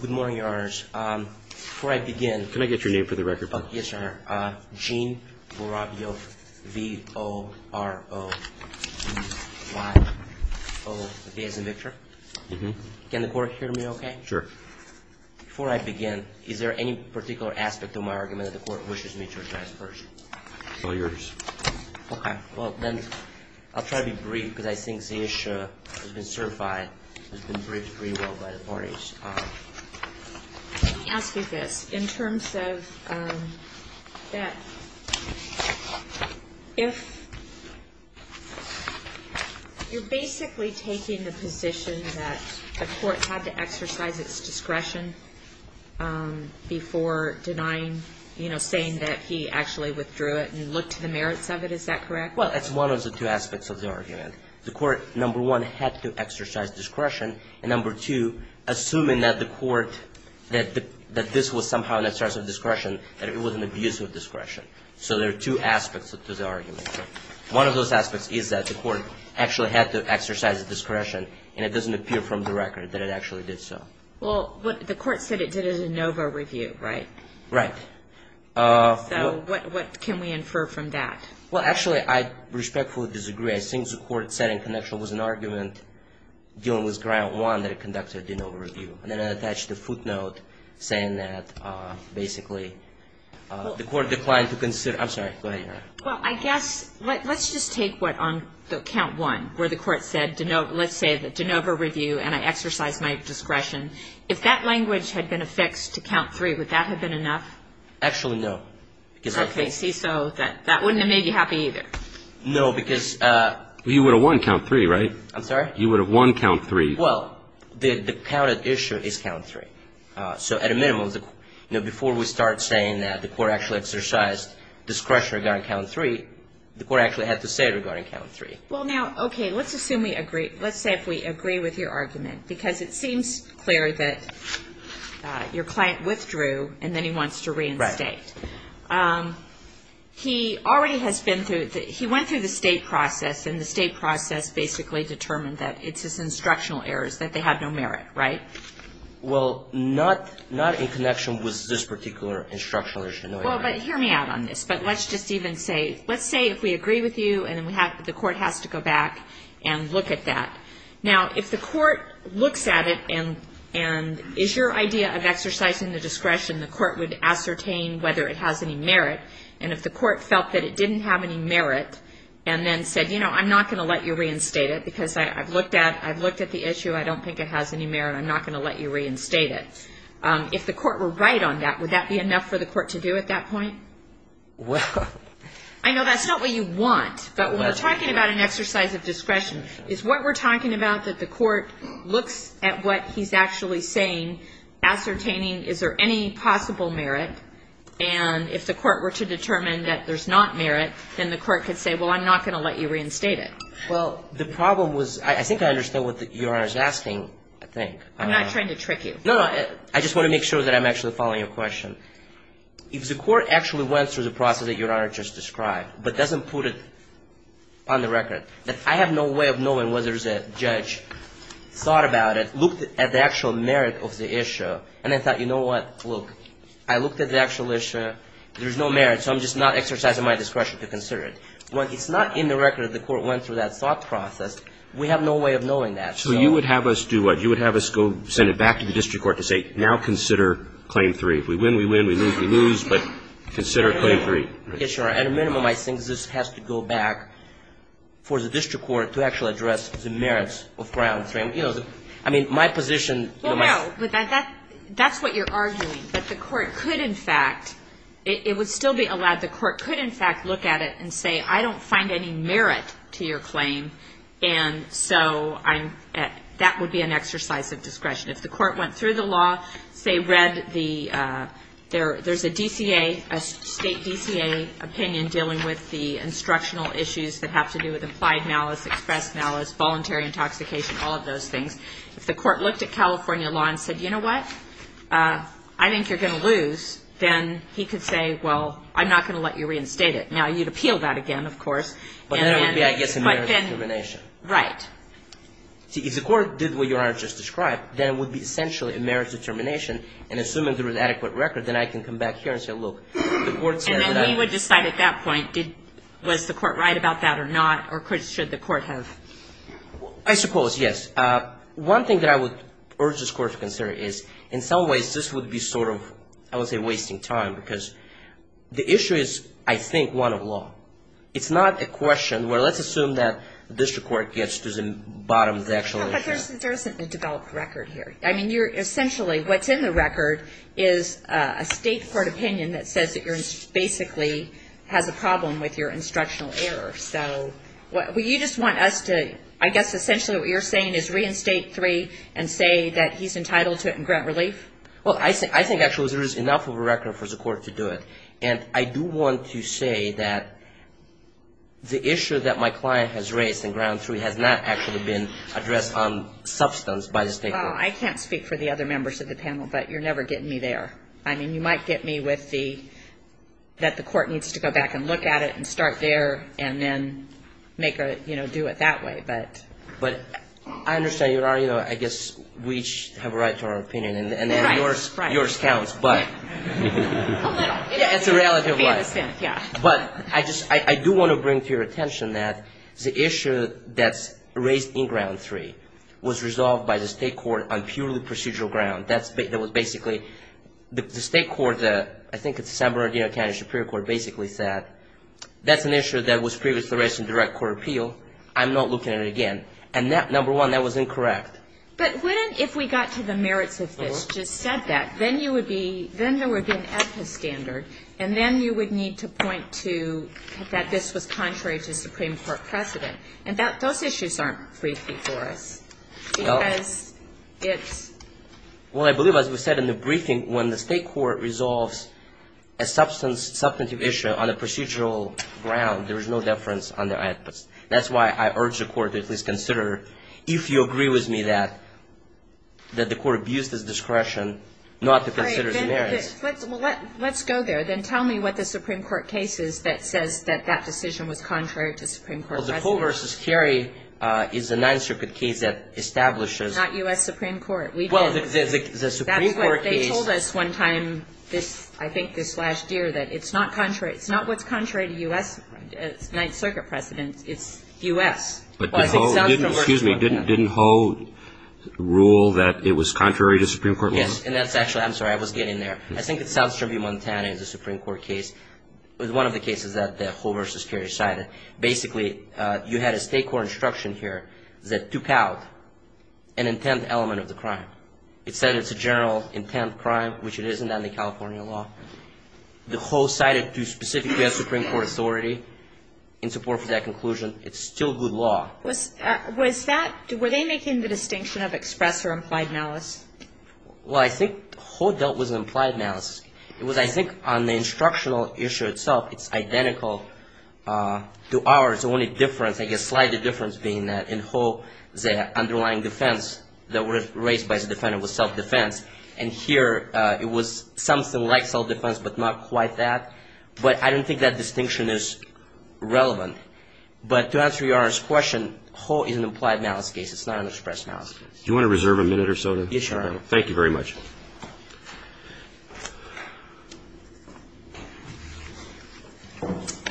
Good morning, Your Honors. Before I begin... Can I get your name for the record, please? Yes, sir. Gene Vorovyo, V-O-R-O-V-Y-O. Okay, as in Victor? Mm-hmm. Can the Court hear me okay? Sure. Before I begin, is there any particular aspect of my argument that the Court wishes me to address first? All yours. Okay. Well, then, I'll try to be brief, because I think the issue has been certified. It's been briefed pretty well by the parties. Let me ask you this. In terms of that, if you're basically taking the position that the Court had to exercise its discretion before denying, you know, saying that he actually withdrew it and looked to the merits of it. Is that correct? Well, that's one of the two aspects of the argument. The Court, number one, had to exercise discretion, and number two, assuming that this was somehow an exercise of discretion, that it was an abuse of discretion. So there are two aspects to the argument. One of those aspects is that the Court actually had to exercise discretion, and it doesn't appear from the record that it actually did so. Well, the Court said it did a de novo review, right? Right. So what can we infer from that? Well, actually, I respectfully disagree. I think the Court said in connection with an argument dealing with ground one that it conducted a de novo review. And then I attached a footnote saying that basically the Court declined to consider – I'm sorry. Go ahead. Well, I guess let's just take what on the count one where the Court said, let's say, a de novo review, and I exercised my discretion. If that language had been affixed to count three, would that have been enough? Actually, no. Okay. See, so that wouldn't have made you happy either. No, because – Well, you would have won count three, right? I'm sorry? You would have won count three. Well, the counted issue is count three. So at a minimum, before we start saying that the Court actually exercised discretion regarding count three, the Court actually had to say it regarding count three. Well, now, okay, let's assume we agree. Let's say if we agree with your argument, because it seems clear that your client withdrew, and then he wants to reinstate. Right. He already has been through – he went through the state process, and the state process basically determined that it's his instructional errors, that they have no merit, right? Well, not in connection with this particular instructional issue, no. Well, but hear me out on this. But let's just even say – let's say if we agree with you, and then the Court has to go back and look at that. Now, if the Court looks at it and is your idea of exercising the discretion, the Court would ascertain whether it has any merit. And if the Court felt that it didn't have any merit and then said, you know, I'm not going to let you reinstate it because I've looked at the issue. I don't think it has any merit. I'm not going to let you reinstate it. If the Court were right on that, would that be enough for the Court to do at that point? Well – I know that's not what you want, but when we're talking about an exercise of discretion, is what we're talking about that the Court looks at what he's actually saying, ascertaining is there any possible merit, and if the Court were to determine that there's not merit, then the Court could say, well, I'm not going to let you reinstate it. Well, the problem was – I think I understand what Your Honor is asking, I think. I'm not trying to trick you. No, no. I just want to make sure that I'm actually following your question. If the Court actually went through the process that Your Honor just described, but doesn't put it on the record, that I have no way of knowing whether there's a judge thought about it, looked at the actual merit of the issue, and then thought, you know what, look, I looked at the actual issue, there's no merit, so I'm just not exercising my discretion to consider it. When it's not in the record that the Court went through that thought process, we have no way of knowing that. So you would have us do what? You would have us go send it back to the district court to say, now consider Claim 3. If we win, we win. If we lose, we lose. But consider Claim 3. At a minimum, I think this has to go back for the district court to actually address the merits of Claim 3. I mean, my position – Well, no. That's what you're arguing, that the Court could in fact – it would still be allowed – the Court could in fact look at it and say, I don't find any merit to your claim, and so that would be an exercise of discretion. If the Court went through the law, say read the – there's a DCA, a state DCA opinion dealing with the instructional issues that have to do with implied malice, expressed malice, voluntary intoxication, all of those things. If the Court looked at California law and said, you know what, I think you're going to lose, then he could say, well, I'm not going to let you reinstate it. Now, you'd appeal that again, of course. But then it would be, I guess, a merit discrimination. Right. See, if the Court did what Your Honor just described, then it would be essentially a merit determination, and assuming there was adequate record, then I can come back here and say, look, the Court said that I – And then we would decide at that point, did – was the Court right about that or not, or should the Court have – I suppose, yes. One thing that I would urge this Court to consider is, in some ways, this would be sort of, I would say, wasting time, because the issue is, I think, one of law. It's not a question where let's assume that the district court gets to the bottom of the actual issue. But there isn't a developed record here. I mean, you're – essentially, what's in the record is a state court opinion that says that you're – basically has a problem with your instructional error. So would you just want us to – I guess, essentially, what you're saying is reinstate 3 and say that he's entitled to it and grant relief? Well, I think, actually, there is enough of a record for the Court to do it. And I do want to say that the issue that my client has raised in Ground 3 has not actually been addressed on substance by the state court. Well, I can't speak for the other members of the panel, but you're never getting me there. I mean, you might get me with the – that the Court needs to go back and look at it and start there and then make a – you know, do it that way. But I understand your argument. I guess we each have a right to our opinion. Right, right. And then yours counts, but – A little. It's a reality of life. Yeah. But I just – I do want to bring to your attention that the issue that's raised in Ground 3 was resolved by the state court on purely procedural ground. That was basically – the state court, I think it's the San Bernardino County Superior Court, basically said that's an issue that was previously raised in direct court appeal. I'm not looking at it again. And number one, that was incorrect. But wouldn't – if we got to the merits of this, just said that, then you would be – then there would be an AEDPA standard, and then you would need to point to that this was contrary to Supreme Court precedent. And those issues aren't briefed before us because it's – Well, I believe, as we said in the briefing, when the state court resolves a substantive issue on a procedural ground, there is no deference on the AEDPA. That's why I urge the Court to at least consider, if you agree with me, that the Court abuse this discretion not to consider the merits. All right. Let's go there. Then tell me what the Supreme Court case is that says that that decision was contrary to Supreme Court precedent. Well, the Cole v. Carey is a Ninth Circuit case that establishes – Not U.S. Supreme Court. We did. Well, the Supreme Court case – That's what they told us one time this – I think this last year, that it's not contrary – it's not what's contrary to U.S. Ninth Circuit precedent. It's U.S. Excuse me. Didn't Hoe rule that it was contrary to Supreme Court law? Yes. And that's actually – I'm sorry. I was getting there. I think it's South Tribune, Montana. It's a Supreme Court case. It was one of the cases that the Cole v. Carey cited. Basically, you had a state court instruction here that took out an intent element of the crime. It said it's a general intent crime, which it isn't under California law. The Hoe cited to specific U.S. Supreme Court authority in support of that conclusion. It's still good law. Was that – were they making the distinction of express or implied malice? Well, I think Hoe dealt with implied malice. It was, I think, on the instructional issue itself, it's identical to ours. The only difference, I guess, slightly difference being that in Hoe, the underlying defense that was raised by the defendant was self-defense. And here, it was something like self-defense, but not quite that. But I don't think that distinction is relevant. But to answer Your Honor's question, Hoe is an implied malice case. It's not an express malice case. Do you want to reserve a minute or so? Yes, Your Honor. Thank you very much.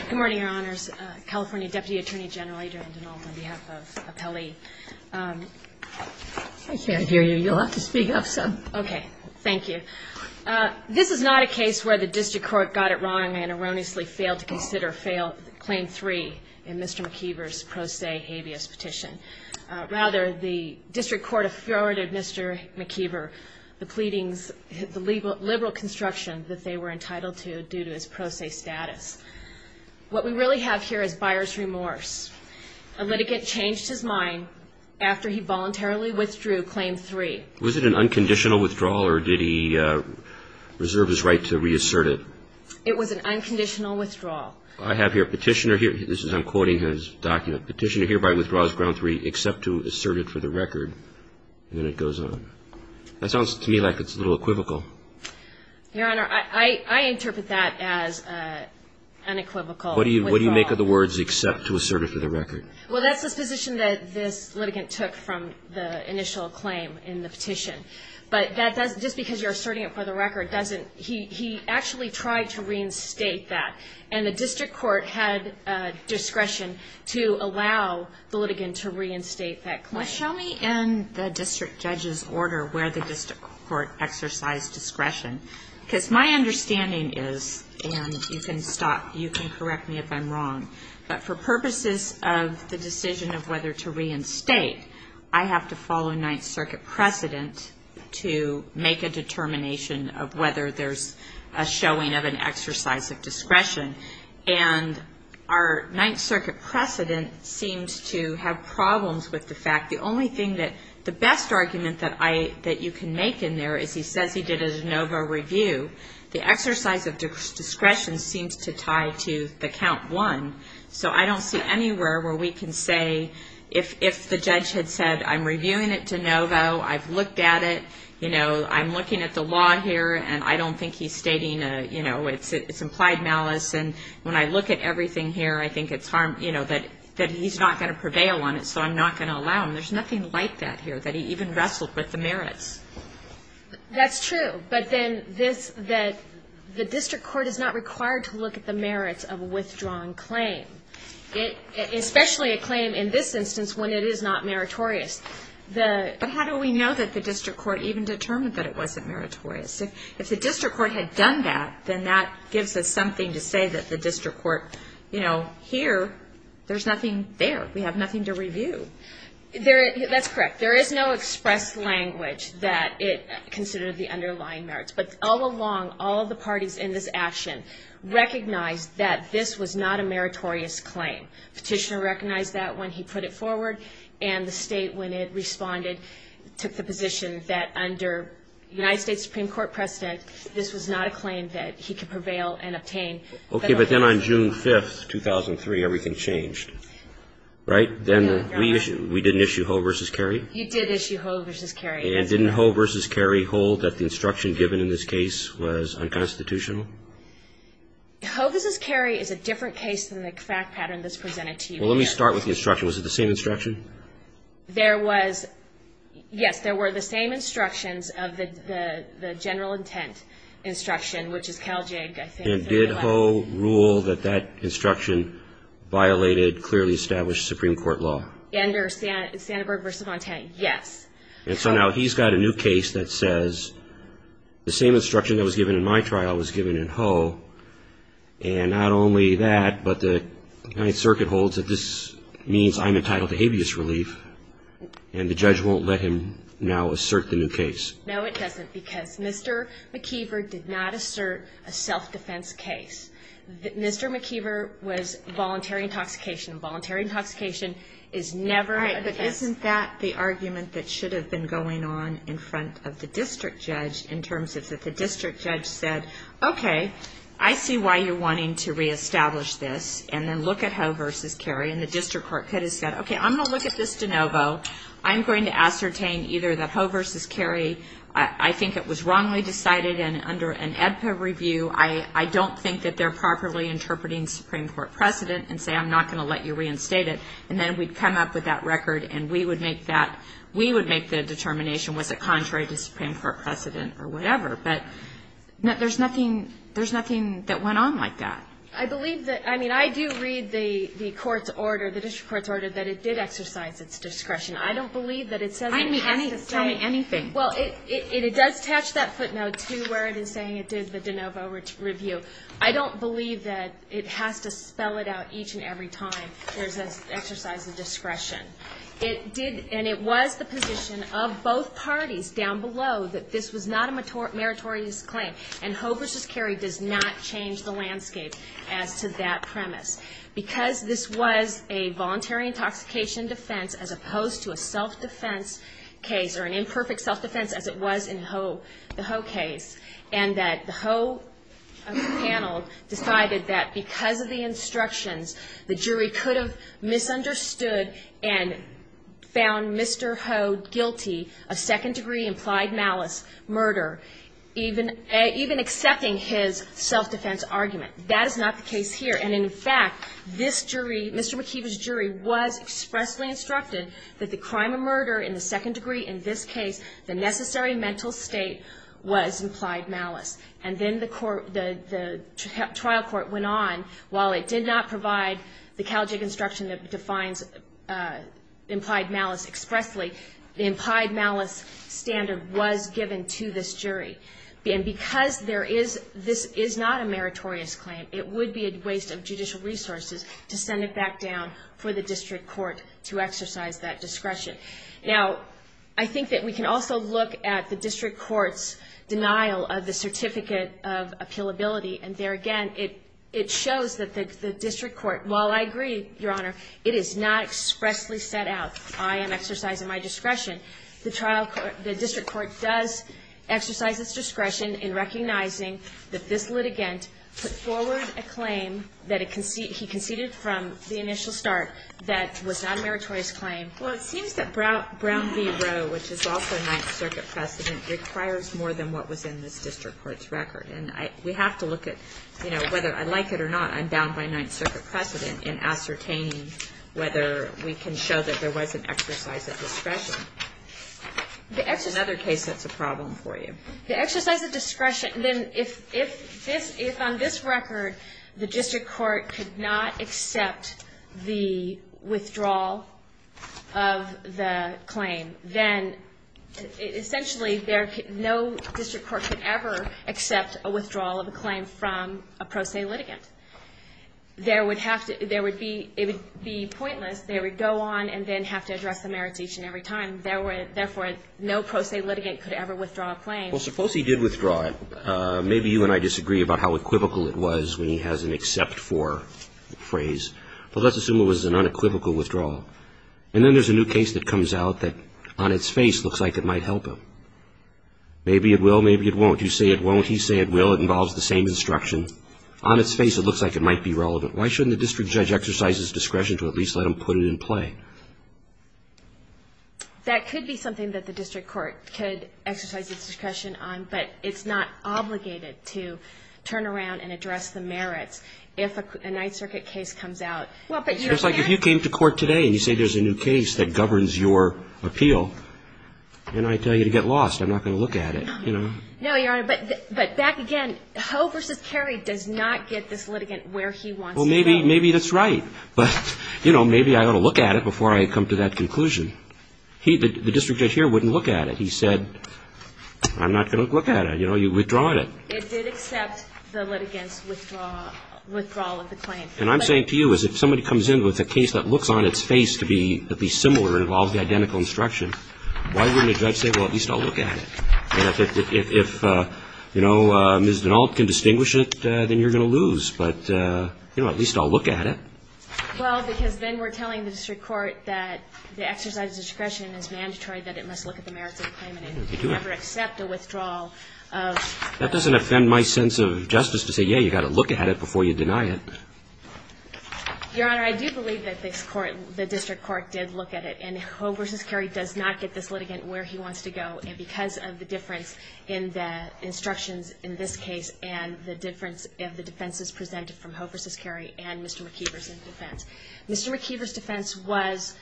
Good morning, Your Honors. California Deputy Attorney General Adrian Dinal on behalf of Appellee. I can't hear you. You'll have to speak up some. Okay. Thank you. This is not a case where the district court got it wrong and erroneously failed to consider claim three in Mr. McKeever's pro se habeas petition. Rather, the district court afforded Mr. McKeever the pleadings, the liberal construction that they were entitled to due to his pro se status. What we really have here is buyer's remorse. A litigant changed his mind after he voluntarily withdrew claim three. Was it an unconditional withdrawal or did he reserve his right to reassert it? It was an unconditional withdrawal. I have here a petitioner here. I'm quoting his document. Petitioner hereby withdraws ground three except to assert it for the record. And then it goes on. That sounds to me like it's a little equivocal. Your Honor, I interpret that as an unequivocal withdrawal. What do you make of the words except to assert it for the record? Well, that's the position that this litigant took from the initial claim in the petition. But just because you're asserting it for the record, he actually tried to reinstate that. And the district court had discretion to allow the litigant to reinstate that claim. Well, show me in the district judge's order where the district court exercised discretion. Because my understanding is, and you can correct me if I'm wrong, but for purposes of the decision of whether to reinstate, I have to follow Ninth Circuit precedent to make a determination of whether there's a showing of an exercise of discretion. And our Ninth Circuit precedent seems to have problems with the fact, the only thing that the best argument that you can make in there is he says he did a de novo review. The exercise of discretion seems to tie to the count one. So I don't see anywhere where we can say if the judge had said I'm reviewing it de novo, I've looked at it, I'm looking at the law here, and I don't think he's stating it's implied malice. And when I look at everything here, I think it's harm, that he's not going to prevail on it. So I'm not going to allow him. There's nothing like that here, that he even wrestled with the merits. That's true. But then the district court is not required to look at the merits of a withdrawn claim, especially a claim in this instance when it is not meritorious. But how do we know that the district court even determined that it wasn't meritorious? If the district court had done that, then that gives us something to say that the district court, you know, here, there's nothing there. We have nothing to review. That's correct. There is no express language that it considered the underlying merits. But all along, all of the parties in this action recognized that this was not a meritorious claim. Petitioner recognized that when he put it forward, and the State, when it responded, took the position that under the United States Supreme Court precedent, this was not a claim that he could prevail and obtain. Okay. But then on June 5, 2003, everything changed, right? Then we didn't issue Hoe v. Cary? You did issue Hoe v. Cary. And didn't Hoe v. Cary hold that the instruction given in this case was unconstitutional? Hoe v. Cary is a different case than the fact pattern that's presented to you here. Well, let me start with the instruction. Was it the same instruction? There was, yes, there were the same instructions of the general intent instruction, which is Caljig, I think. And did Hoe rule that that instruction violated clearly established Supreme Court law? Under Sandberg v. Fontaine, yes. And so now he's got a new case that says the same instruction that was given in my trial was given in Hoe, and not only that, but the United Circuit holds that this means I'm entitled to habeas relief, and the judge won't let him now assert the new case. No, it doesn't, because Mr. McKeever did not assert a self-defense case. Mr. McKeever was voluntary intoxication. Voluntary intoxication is never a defense. All right, but isn't that the argument that should have been going on in front of the district judge in terms of if the district judge said, okay, I see why you're wanting to reestablish this, and then look at Hoe v. Cary, and the district court could have said, okay, I'm going to look at this de novo. I'm going to ascertain either that Hoe v. Cary, I think it was wrongly decided, and under an AEDPA review, I don't think that they're properly interpreting Supreme Court precedent and say I'm not going to let you reinstate it, and then we'd come up with that record and we would make that, we would make the determination was it contrary to Supreme Court precedent or whatever. But there's nothing that went on like that. I believe that, I mean, I do read the court's order, the district court's order that it did exercise its discretion. I don't believe that it says it has to say. Tell me anything. Well, it does attach that footnote to where it is saying it did the de novo review. I don't believe that it has to spell it out each and every time there's an exercise of discretion. It did, and it was the position of both parties down below that this was not a meritorious claim, and Hoe v. Cary does not change the landscape as to that premise. Because this was a voluntary intoxication defense as opposed to a self-defense case or an imperfect self-defense as it was in the Hoe case, and that the Hoe panel decided that because of the instructions, the jury could have misunderstood and found Mr. Hoe guilty of second-degree implied malice, murder, even accepting his self-defense argument. That is not the case here. And, in fact, this jury, Mr. McKeever's jury, was expressly instructed that the crime of murder in the second degree in this case, the necessary mental state, was implied malice. And then the trial court went on. While it did not provide the Caljig instruction that defines implied malice expressly, the implied malice standard was given to this jury. And because there is this is not a meritorious claim, it would be a waste of judicial resources to send it back down for the district court to exercise that discretion. Now, I think that we can also look at the district court's denial of the certificate of appealability, and there, again, it shows that the district court, while I agree, Your Honor, it is not expressly set out, I am exercising my discretion. The district court does exercise its discretion in recognizing that this litigant put forward a claim that he conceded from the initial start that was not a meritorious claim. Well, it seems that Brown v. Roe, which is also Ninth Circuit precedent, requires more than what was in this district court's record. And we have to look at, you know, whether I like it or not, I'm bound by Ninth Circuit precedent in ascertaining whether we can show that there is another case that's a problem for you. The exercise of discretion, then, if on this record, the district court could not accept the withdrawal of the claim, then essentially no district court could ever accept a withdrawal of a claim from a pro se litigant. It would be pointless. They would go on and then have to address the meritation every time. Therefore, no pro se litigant could ever withdraw a claim. Well, suppose he did withdraw it. Maybe you and I disagree about how equivocal it was when he has an except for phrase. But let's assume it was an unequivocal withdrawal. And then there's a new case that comes out that on its face looks like it might help him. Maybe it will, maybe it won't. You say it won't, he say it will. It involves the same instruction. On its face, it looks like it might be relevant. Why shouldn't the district judge exercise his discretion to at least let him put it in play? That could be something that the district court could exercise its discretion on, but it's not obligated to turn around and address the merits if a Ninth Circuit case comes out. It's like if you came to court today and you say there's a new case that governs your appeal, then I tell you to get lost. I'm not going to look at it. No, Your Honor, but back again, does not get this litigant where he wants to go. Well, maybe that's right. But, you know, maybe I ought to look at it before I come to that conclusion. The district judge here wouldn't look at it. He said, I'm not going to look at it. You know, you've withdrawn it. It did accept the litigant's withdrawal of the claim. And I'm saying to you is if somebody comes in with a case that looks on its face to be similar and involves the identical instruction, why wouldn't a judge say, well, at least I'll look at it? If, you know, Ms. Dinault can distinguish it, then you're going to lose. But, you know, at least I'll look at it. Well, because then we're telling the district court that the exercise of discretion is mandatory, that it must look at the merits of the claim and it can never accept a withdrawal of the claim. That doesn't offend my sense of justice to say, yeah, you've got to look at it before you deny it. Your Honor, I do believe that the district court did look at it. And Ho versus Kerry does not get this litigant where he wants to go. And because of the difference in the instructions in this case and the difference of the defenses presented from Ho versus Kerry and Mr. McKeever's defense. Mr. McKeever's defense was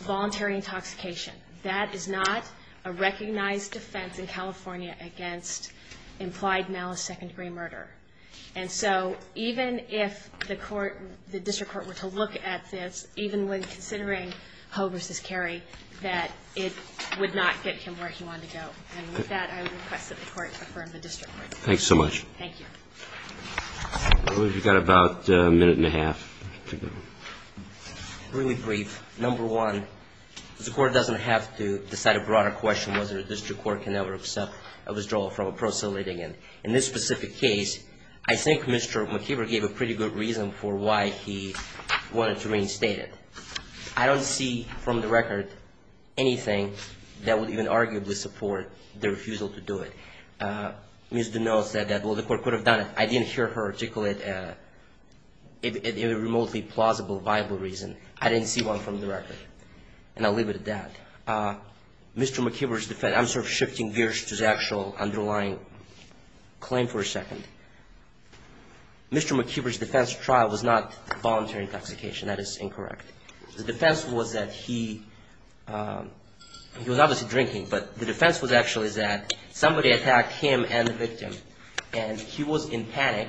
voluntary intoxication. That is not a recognized defense in California against implied malice, second-degree murder. And so even if the court, the district court were to look at this, even when considering Ho versus Kerry, that it would not get him where he wanted to go. And with that, I would request that the court affirm the district court. Thanks so much. Thank you. I believe we've got about a minute and a half to go. Really brief. Number one, the court doesn't have to decide a broader question, whether the district court can ever accept a withdrawal from a proselyting. In this specific case, I think Mr. McKeever gave a pretty good reason for why he wanted to reinstate it. I don't see from the record anything that would even arguably support the refusal to do it. Ms. Duneau said that, well, the court could have done it. I didn't hear her articulate it in a remotely plausible, viable reason. I didn't see one from the record. And I'll leave it at that. Mr. McKeever's defense, I'm sort of shifting gears to the actual underlying claim for a second. Mr. McKeever's defense trial was not voluntary intoxication. That is incorrect. The defense was that he was obviously drinking, but the defense was actually that somebody attacked him and the victim. And he was in panic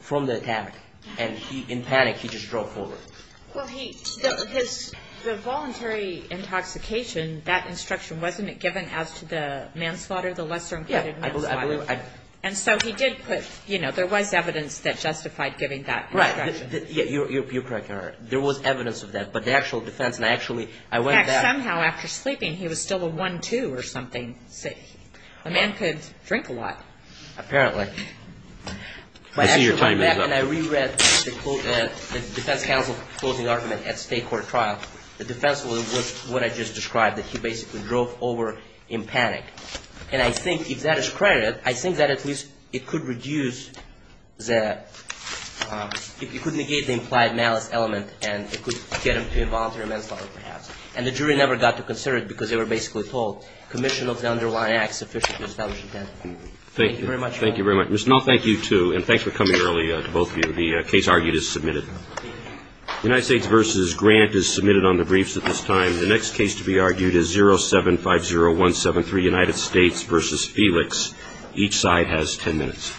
from the attack. And in panic, he just drove forward. Well, he – the voluntary intoxication, that instruction, wasn't it given as to the manslaughter, the lesser-included manslaughter? Yeah. And so he did put – you know, there was evidence that justified giving that instruction. Right. You're correct, Your Honor. There was evidence of that. But the actual defense, and I actually – I went to that. In fact, somehow, after sleeping, he was still a one-two or something. A man could drink a lot. Apparently. I see your timing is up. And I reread the defense counsel's closing argument at state court trial. The defense was what I just described, that he basically drove over in panic. And I think if that is credited, I think that at least it could reduce the – it could negate the implied malice element and it could get him to involuntary manslaughter, perhaps. And the jury never got to consider it because they were basically told, commission of the underlying act sufficient to establish intent. Thank you very much, Your Honor. Thank you very much. Ms. Null, thank you, too. And thanks for coming early to both of you. The case argued is submitted. United States v. Grant is submitted on the briefs at this time. The next case to be argued is 0750173, United States v. Felix. Each side has ten minutes.